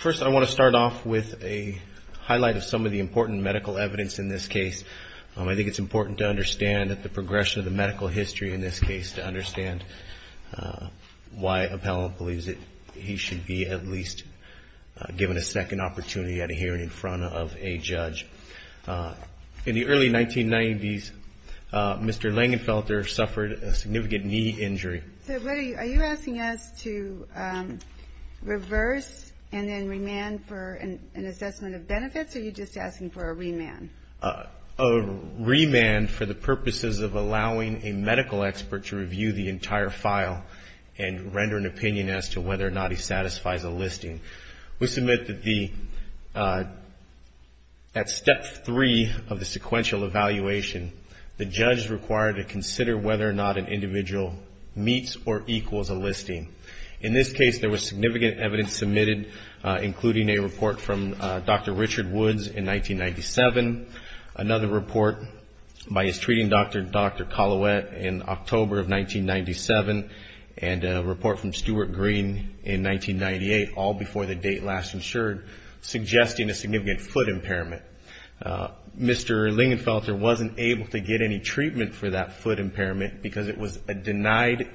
First, I want to start off with a highlight of some of the important medical evidence in this case. I think it's important to understand that the progression of the medical history in this case to understand why Appellant believes that he should be at least given a second opportunity at a hearing in front of a judge. In the early 1990s, Mr. Lingenfelter suffered a significant knee injury. So are you asking us to reverse and then remand for an assessment of benefits or are you just asking for a remand? A remand for the purposes of allowing a medical expert to review the entire file and render an opinion as to whether or not he satisfies a listing. We submit that at step three of the sequential evaluation, the judge is required to consider whether or not an individual meets or equals a listing. In this case, there was significant evidence submitted, including a report from Dr. Richard Woods in 1997, another report by his treating doctor, Dr. Colouette, in October of 1997, and a report from Stewart Green in 1998, all before the date last insured, suggesting a significant foot impairment. Mr. Lingenfelter wasn't able to get any treatment for that foot impairment because it was a denied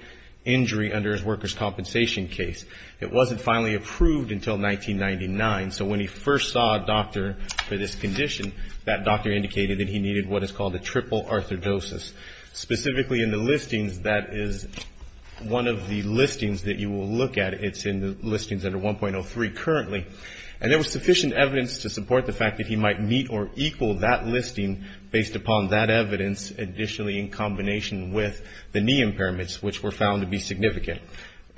injury under his workers' compensation case. It wasn't finally approved until 1999, so when he first saw a doctor for this condition, that doctor indicated that he needed what is called a triple arthrodosis. Specifically in the listings, that is one of the listings that you will look at. It's in the listings under 1.03 currently. And there was sufficient evidence to support the fact that he might meet or equal that listing based upon that evidence, additionally in combination with the knee impairments, which were found to be significant.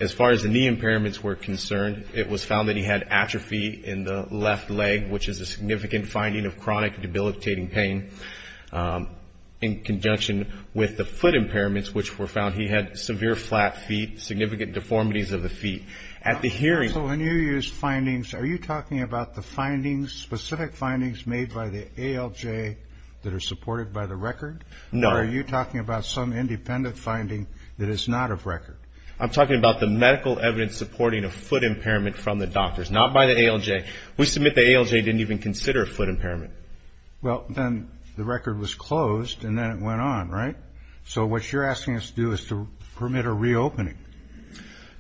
As far as the knee impairments were concerned, it was found that he had atrophy in the left leg, which is a significant finding of chronic debilitating pain. In conjunction with the foot impairments, which were found, he had severe flat feet, significant deformities of the feet. At the hearing... So when you use findings, are you talking about the findings, specific findings made by the ALJ that are supported by the record? No. Or are you talking about some independent finding that is not of record? I'm talking about the medical evidence supporting a foot impairment from the doctors, not by the ALJ. We submit the ALJ didn't even consider a foot impairment. Well, then the record was closed, and then it went on, right? So what you're asking us to do is to permit a reopening.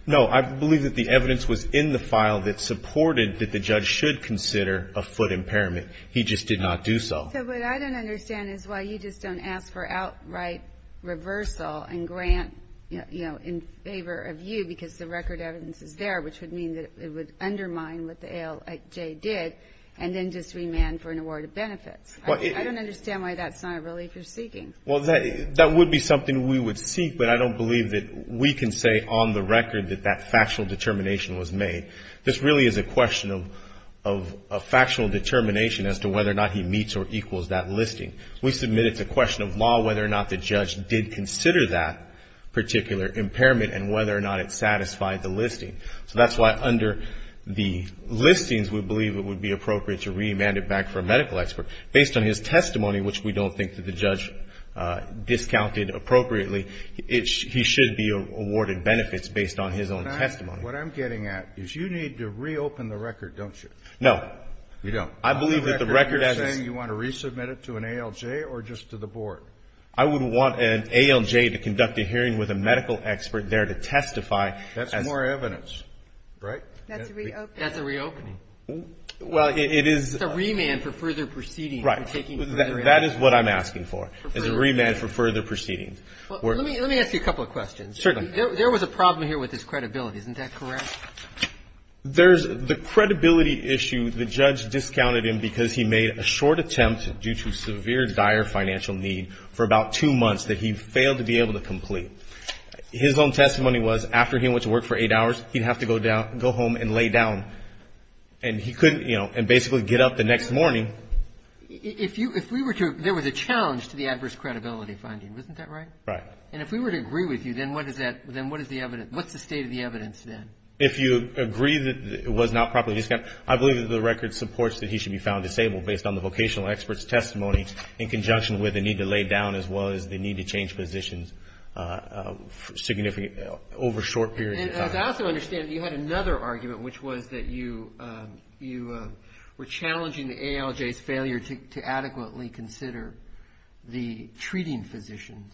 No. I believe that the evidence was in the file that supported that the judge should consider a foot impairment. He just did not do so. So what I don't understand is why you just don't ask for outright reversal and grant, you know, in favor of you because the record evidence is there, which would mean that it would undermine what the ALJ did and then just remand for an award of benefits. I don't understand why that's not a relief you're seeking. Well, that would be something we would seek, but I don't believe that we can say on the record that that factual determination was made. This really is a question of a factual determination as to whether or not he meets or equals that listing. We submit it's a question of law, whether or not the judge did consider that particular impairment and whether or not it satisfied the listing. So that's why under the listings, we believe it would be appropriate to remand it back for a medical expert based on his testimony, which we don't think that the judge discounted appropriately. He should be awarded benefits based on his own testimony. What I'm getting at is you need to reopen the record, don't you? No, you don't. I believe that the record as you want to resubmit it to an ALJ or just to the board? I wouldn't want an ALJ to conduct a hearing with a medical expert there to testify. That's more evidence, right? That's a reopening. Well, it is a remand for further proceedings. Right. That is what I'm asking for is a remand for further proceedings. Well, let me let me ask you a couple of questions. Certainly. There was a problem here with this credibility. Isn't that correct? There's the credibility issue. The judge discounted him because he made a short attempt due to severe, dire financial need for about two months that he failed to be able to complete. His own testimony was after he went to work for eight hours, he'd have to go down, go home and lay down. And he couldn't, you know, and basically get up the next morning. If you if we were to there was a challenge to the adverse credibility finding. Isn't that right? Right. And if we were to agree with you, then what is that? Then what is the evidence? What's the state of the evidence then? If you agree that it was not properly discounted, I believe that the record supports that he should be found disabled based on the vocational experts testimony in conjunction with the need to lay down as well as the need to change positions significant over a short period. And I also understand you had another argument, which was that you you were challenging the ALJ's failure to adequately consider the treating physicians.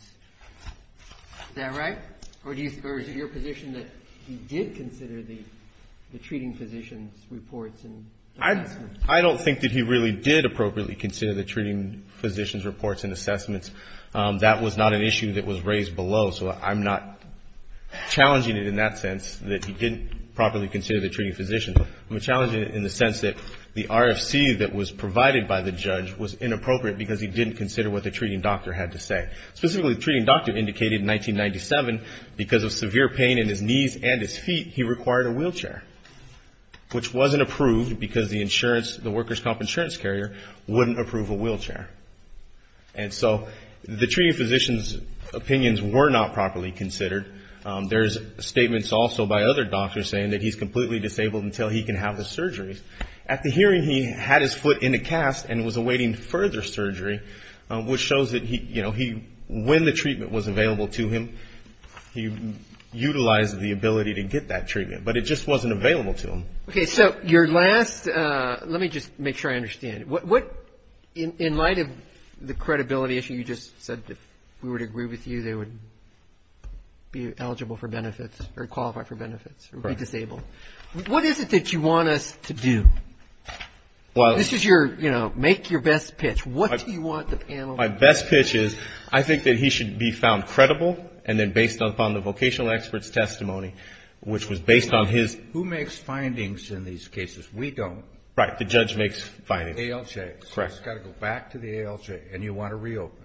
Is that right? Or do you or is it your position that he did consider the the treating physicians reports? And I don't think that he really did appropriately consider the treating physicians reports and assessments. That was not an issue that was raised below. So I'm not challenging it in that sense that he didn't properly consider the treating physician. I'm challenging it in the sense that the RFC that was provided by the judge was inappropriate because he didn't consider what the treating doctor had to say. Specifically, the treating doctor indicated in 1997, because of severe pain in his knees and his feet, he required a wheelchair, which wasn't approved because the insurance, the workers' comp insurance carrier, wouldn't approve a wheelchair. And so the treating physician's opinions were not properly considered. There's statements also by other doctors saying that he's completely disabled until he can have the surgery. At the hearing, he had his foot in a cast and was awaiting further surgery, which shows that he you know, he when the treatment was available to him, he utilized the ability to get that treatment. But it just wasn't available to him. OK, so your last let me just make sure I understand what in light of the credibility issue, you just said that we would agree with you. They would be eligible for benefits or qualify for benefits or be disabled. What is it that you want us to do? Well, this is your, you know, make your best pitch. What do you want the panel? My best pitch is I think that he should be found credible and then based upon the vocational experts testimony, which was based on his. Who makes findings in these cases? We don't. Right. The judge makes findings. Correct. Got to go back to the ALJ and you want to reopen.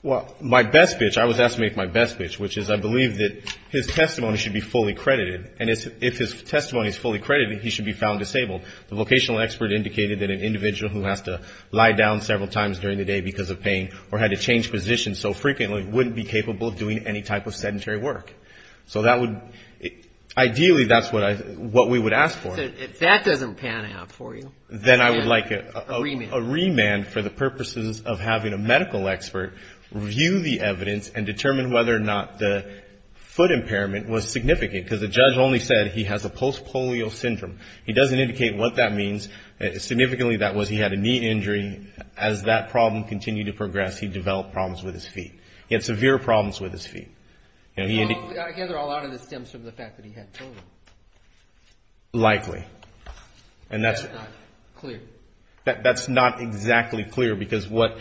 Well, my best pitch, I was asked to make my best pitch, which is I believe that his testimony should be fully credited. And if his testimony is fully credited, he should be found disabled. The vocational expert indicated that an individual who has to lie down several times during the day because of pain or had to change positions so frequently wouldn't be capable of doing any type of sedentary work. So that would ideally that's what I what we would ask for. If that doesn't pan out for you. Then I would like a remand for the purposes of having a medical expert review the evidence and determine whether or not the foot impairment was significant because the judge only said he has a post-polio syndrome. He doesn't indicate what that means. Significantly, that was he had a knee injury. As that problem continued to progress, he developed problems with his feet. He had severe problems with his feet. I gather a lot of this stems from the fact that he had children. Likely. And that's not clear. That's not exactly clear because what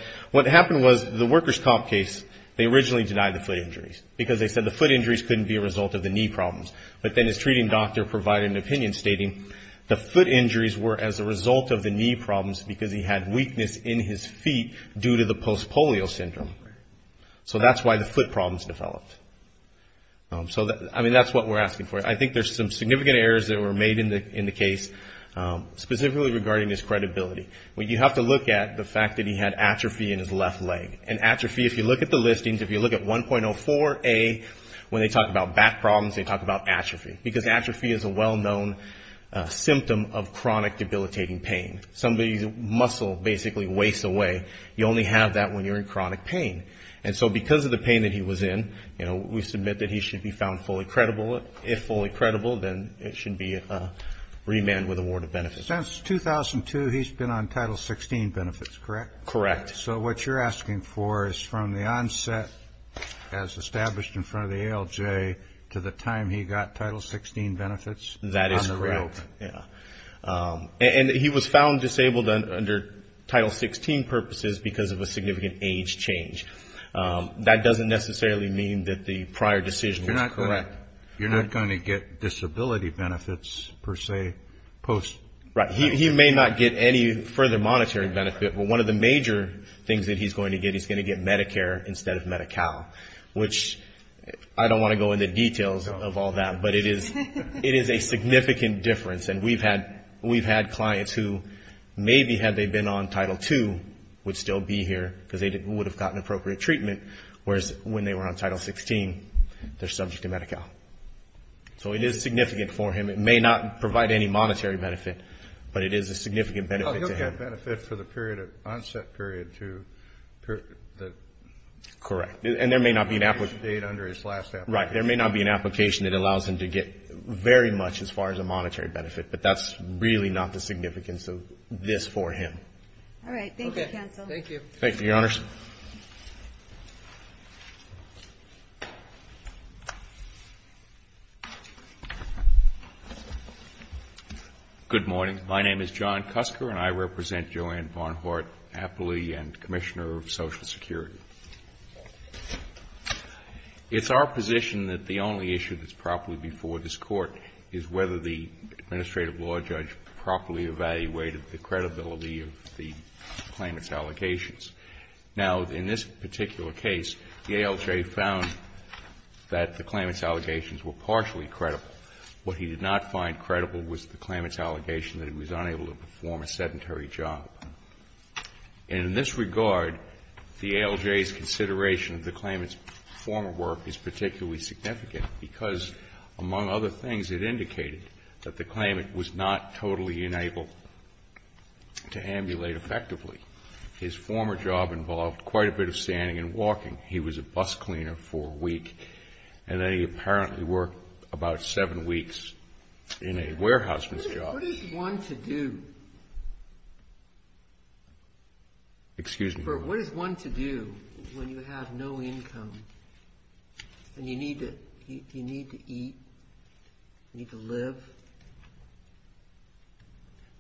happened was the workers' comp case, they originally denied the foot injuries. Because they said the foot injuries couldn't be a result of the knee problems. But then his treating doctor provided an opinion stating the foot injuries were as a result of the knee problems because he had weakness in his feet due to the post-polio syndrome. So that's why the foot problems developed. So I mean that's what we're asking for. I think there's some significant errors that were made in the case, specifically regarding his credibility. You have to look at the fact that he had atrophy in his left leg. And atrophy, if you look at the listings, if you look at 1.04A, when they talk about back problems, they talk about atrophy. Because atrophy is a well-known symptom of chronic debilitating pain. Somebody's muscle basically wastes away. You only have that when you're in chronic pain. And so because of the pain that he was in, you know, we submit that he should be found fully credible if fully debilitated. Then it should be remanded with award of benefits. Since 2002, he's been on Title XVI benefits, correct? Correct. So what you're asking for is from the onset, as established in front of the ALJ, to the time he got Title XVI benefits? That is correct. And he was found disabled under Title XVI purposes because of a significant age change. That doesn't necessarily mean that the prior decision was correct. You're not going to get disability benefits, per se, post? Right. He may not get any further monetary benefit. But one of the major things that he's going to get, he's going to get Medicare instead of Medi-Cal. Which, I don't want to go into details of all that, but it is a significant difference. And we've had clients who, maybe had they been on Title II, would still be here because they would have gotten appropriate treatment. Whereas, when they were on Title XVI, they're subject to Medi-Cal. So it is significant for him. It may not provide any monetary benefit, but it is a significant benefit to him. He'll get benefit for the onset period. Correct. And there may not be an application that allows him to get very much, as far as a monetary benefit. But that's really not the significance of this for him. All right. Thank you, counsel. Good morning. My name is John Cusker, and I represent Joanne Barnhart-Appley, and Commissioner of Social Security. It's our position that the only issue that's properly before this Court is whether the administrative law judge properly evaluated the credibility of the claimant's allocations. Now, in this particular case, the ALJ found that the claimant's allegations were partially credible. What he did not find credible was the claimant's allegation that he was unable to perform a sedentary job. And in this regard, the ALJ's consideration of the claimant's former work is particularly significant, because, among other things, it indicated that the claimant was not totally unable to ambulate effectively. His former job involved quite a bit of standing and walking. He was a bus cleaner for a week, and then he apparently worked about seven weeks in a warehouseman's job. What is one to do? Excuse me? What is one to do when you have no income, and you need to eat, you need to live?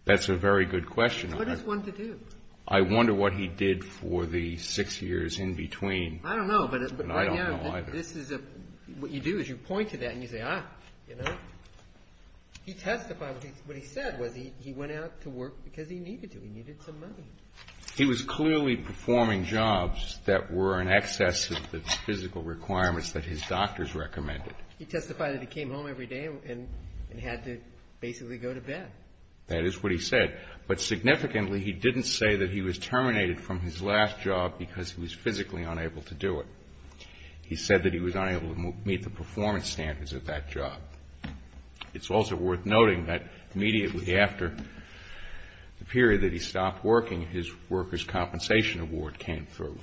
That's a very good question. What is one to do? I wonder what he did for the six years in between. I don't know. I don't know either. What you do is you point to that, and you say, ah, you know. He testified, what he said was he went out to work because he needed to. He needed some money. He was clearly performing jobs that were in excess of the physical requirements that his doctors recommended. He testified that he came home every day and had to basically go to bed. That is what he said. But significantly, he didn't say that he was terminated from his last job because he was physically unable to do it. He said that he was unable to meet the performance standards of that job. It's also worth noting that immediately after the period that he stopped working, his worker's compensation award came through.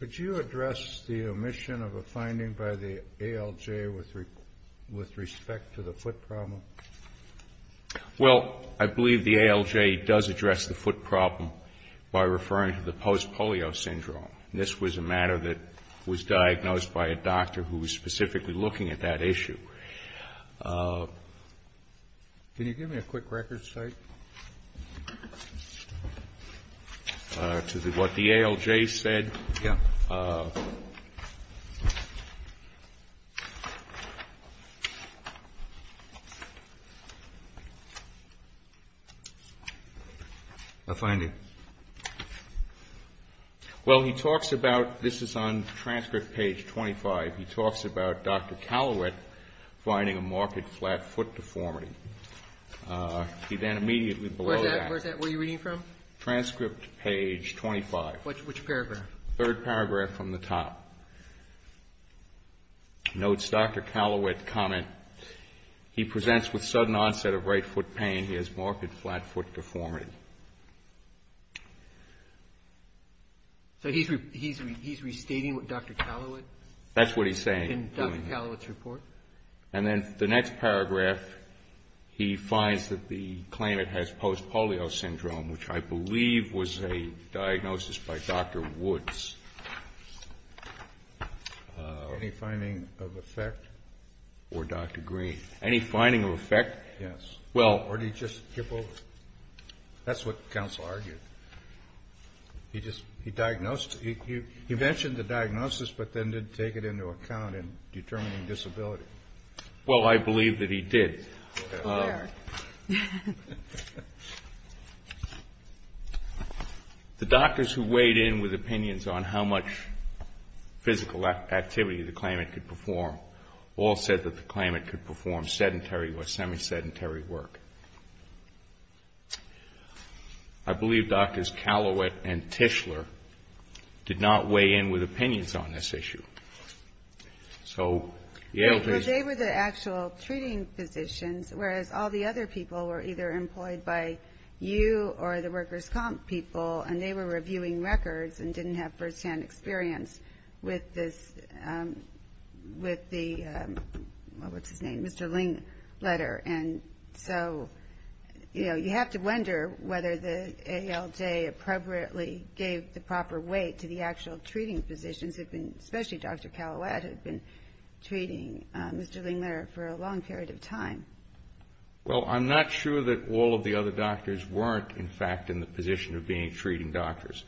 Could you address the omission of a finding by the ALJ with respect to the foot problem? Well, I believe the ALJ does address the foot problem by referring to the post-polio syndrome. This was a matter that was diagnosed by a doctor who was specifically looking at that issue. Can you give me a quick record, Steve? To what the ALJ said. A finding. Well, he talks about, this is on transcript page 25. He talks about Dr. Callowet finding a marked flat foot deformity. He then immediately below that. Where are you reading from? Transcript page 25. Which paragraph? Third paragraph from the top. Notes Dr. Callowet comment, he presents with sudden onset of right foot pain. He has marked flat foot deformity. So he's restating what Dr. Callowet. That's what he's saying. In Dr. Callowet's report. And then the next paragraph, he finds that the claimant has post-polio syndrome, which I believe was a diagnosis by Dr. Woods. Any finding of effect? Or Dr. Green. Any finding of effect? Yes. Or did he just tip over? That's what counsel argued. He just, he diagnosed, he mentioned the diagnosis, but then didn't take it into account in determining disability. Well, I believe that he did. The doctors who weighed in with opinions on how much physical activity the claimant could perform all said that the claimant could perform sedentary or semi-sedentary work. I believe Drs. Callowet and Tischler did not weigh in with opinions on this issue. So, Yale, please. Well, they were the actual treating physicians, whereas all the other people were either employed by you or the workers' comp people, and they were reviewing records and didn't have firsthand experience with this, with the, what's his name, Mr. Ling letter. And so, you know, you have to wonder whether the ALJ appropriately gave the proper weight to the actual treating physicians, especially Dr. Callowet, who had been treating Mr. Ling letter for a long period of time. Well, I'm not sure that all of the other doctors weren't, in fact, in the position of being treating doctors.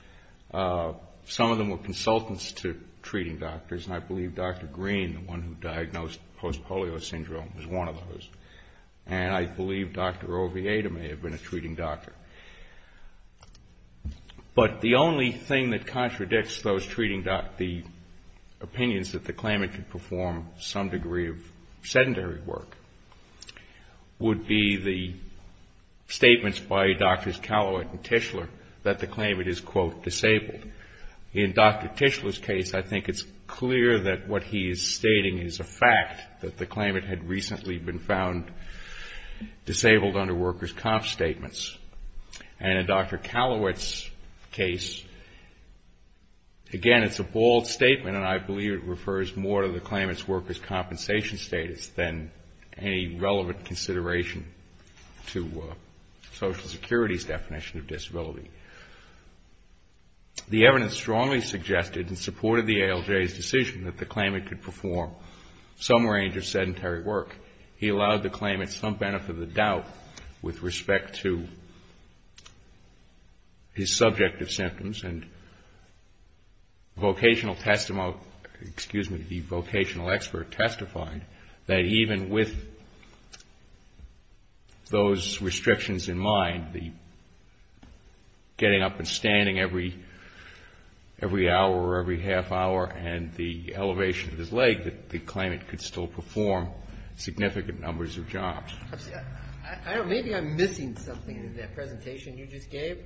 Some of them were consultants to treating doctors, and I believe Dr. Green, the one who diagnosed post-polio syndrome, was one of those. And I believe Dr. Oviedo may have been a treating doctor. But the only thing that contradicts those treating, the opinions that the claimant could perform some degree of sedentary work would be the statements by Drs. Callowet and Tischler that the claimant is, quote, disabled. In Dr. Tischler's case, I think it's clear that what he is stating is a fact, that the claimant had recently been found disabled under workers' comp statements. And in Dr. Callowet's case, again, it's a bold statement, and I believe it refers more to the claimant's workers' compensation status than any relevant consideration to Social Security's definition of disability. The evidence strongly suggested, in support of the ALJ's decision, that the claimant could perform some range of sedentary work. He allowed the claimant some benefit of the doubt with respect to his subjective symptoms, and the vocational expert testified that even with those restrictions in mind, the getting up and standing every hour or every half hour and the elevation of his leg, that the claimant could still perform significant numbers of jobs. Maybe I'm missing something in that presentation you just gave,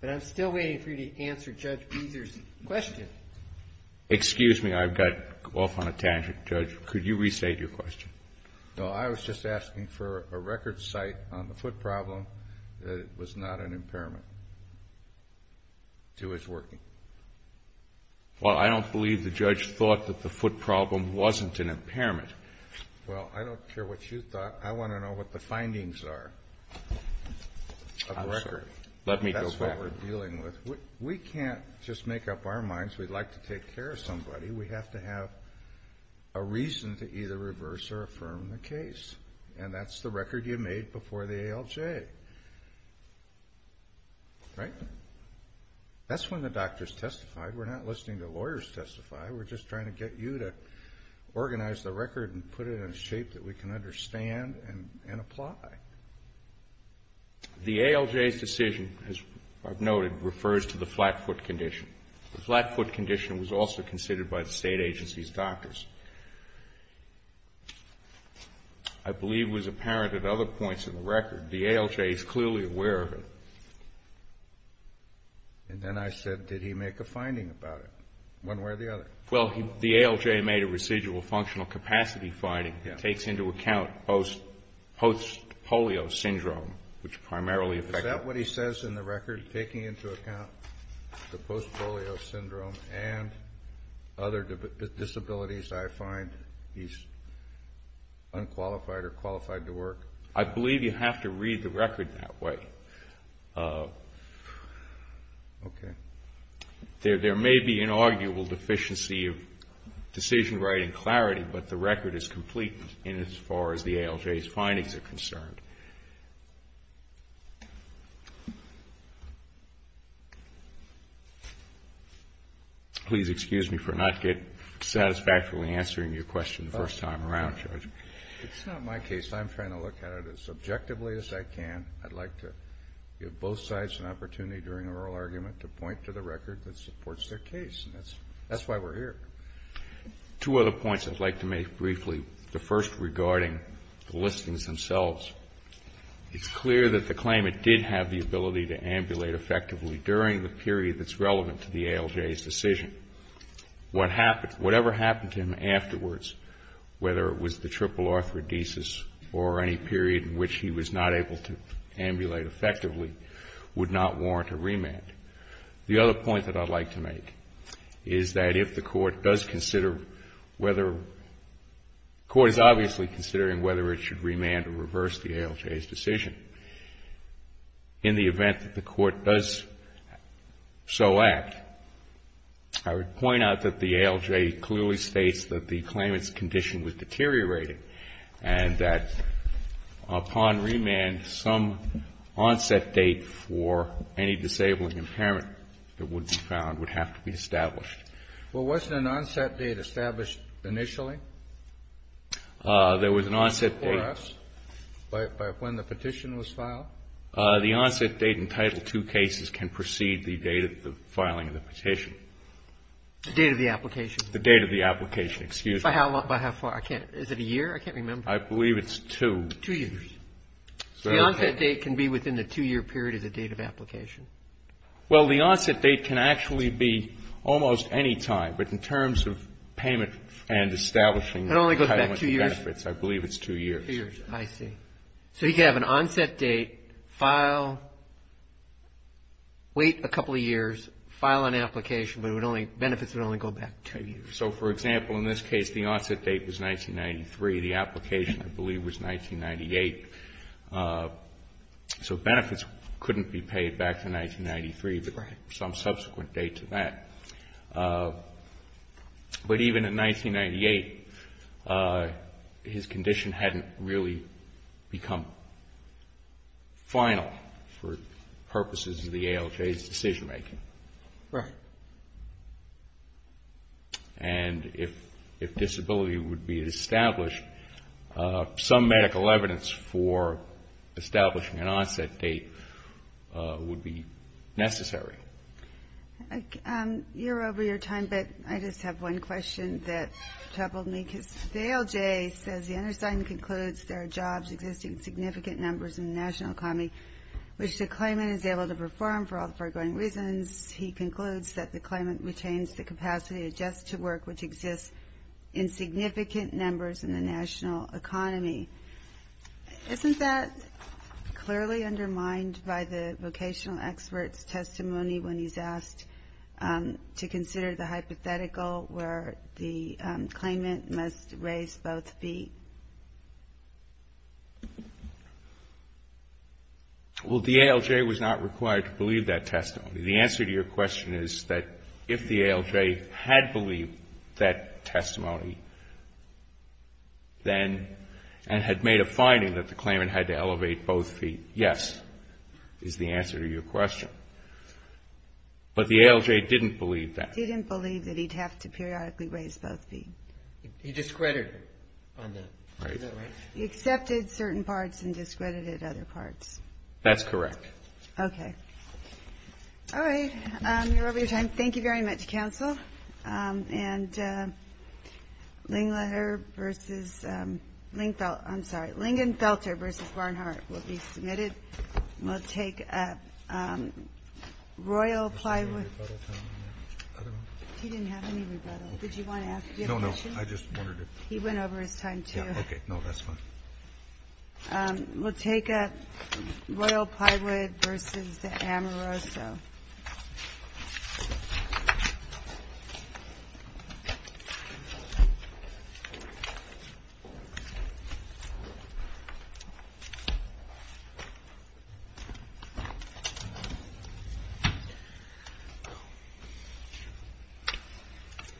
but I'm still waiting for you to answer Judge Beezer's question. Excuse me. I've got off on a tangent. Judge, could you restate your question? No. I was just asking for a record site on the foot problem that it was not an impairment to his working. Well, I don't believe the judge thought that the foot problem wasn't an impairment. Well, I don't care what you thought. I want to know what the findings are of the record. Let me go back. That's what we're dealing with. We can't just make up our minds we'd like to take care of somebody. We have to have a reason to either reverse or affirm the case, and that's the record you made before the ALJ. Right? That's when the doctors testified. We're not listening to lawyers testify. We're just trying to get you to organize the record and put it in a shape that we can understand and apply. The ALJ's decision, as I've noted, refers to the flat foot condition. The flat foot condition was also considered by the state agency's doctors. I believe it was apparent at other points in the record. The ALJ is clearly aware of it. And then I said, did he make a finding about it, one way or the other? Well, the ALJ made a residual functional capacity finding. It takes into account post-polio syndrome, which primarily affects... Is that what he says in the record, taking into account the post-polio syndrome and other disabilities I find he's unqualified or qualified to work? I believe you have to read the record that way. Okay. There may be an arguable deficiency of decision writing clarity, but the record is complete in as far as the ALJ's findings are concerned. Please excuse me for not satisfactorily answering your question the first time around, Judge. It's not my case. I'm trying to look at it as objectively as I can. I'd like to give both sides an opportunity during oral argument to point to the record that supports their case. And that's why we're here. Two other points I'd like to make briefly. The first regarding the listings themselves. It's clear that the claimant did have the ability to ambulate effectively during the period that's relevant to the ALJ's decision. Whatever happened to him afterwards, whether it was the triple arthrodesis or any period in which he was not able to ambulate effectively would not warrant a remand. The other point that I'd like to make is that if the Court does consider whether the Court is obviously considering whether it should remand or reverse the ALJ's decision. In the event that the Court does so act, I would point out that the ALJ clearly states that the claimant's condition was deteriorated. And that upon remand, some onset date for any disabling impairment that would be found would have to be established. Well, wasn't an onset date established initially? There was an onset date. By when the petition was filed? The onset date in Title II cases can precede the date of the filing of the petition. The date of the application? The date of the application. Excuse me. By how far? Is it a year? I can't remember. I believe it's two. Two years. So the onset date can be within the two-year period of the date of application. Well, the onset date can actually be almost any time. But in terms of payment and establishing benefits, I believe it's two years. Two years. I see. So you can have an onset date, file, wait a couple of years, file an application, but benefits would only go back two years. So, for example, in this case, the onset date was 1993. The application, I believe, was 1998. So benefits couldn't be paid back to 1993, but some subsequent date to that. But even in 1998, his condition hadn't really become final for purposes of the ALJ's decision-making. Right. And if disability would be established, some medical evidence for establishing an onset date would be necessary. You're over your time, but I just have one question that troubled me. Because the ALJ says the undersigned concludes there are jobs existing in significant numbers in the national economy, which the claimant is able to perform for all the foregoing reasons. He concludes that the claimant retains the capacity to adjust to work which exists in significant numbers in the national economy. Isn't that clearly undermined by the vocational expert's testimony when he's asked to consider the hypothetical where the claimant must raise both feet? Well, the ALJ was not required to believe that testimony. The answer to your question is that if the ALJ had believed that testimony, then, and had made a finding that the claimant had to elevate both feet, yes, is the answer to your question. But the ALJ didn't believe that. Didn't believe that he'd have to periodically raise both feet. He discredited it. He accepted certain parts and discredited other parts. That's correct. Okay. All right. You're over your time. Thank you very much, counsel. And Lingenfelter v. Barnhart will be submitted. We'll take Royal Plywood. He didn't have any rebuttal. Did you want to ask him a question? He went over his time, too. Okay. No, that's fine. We'll take Royal Plywood v. Amoroso.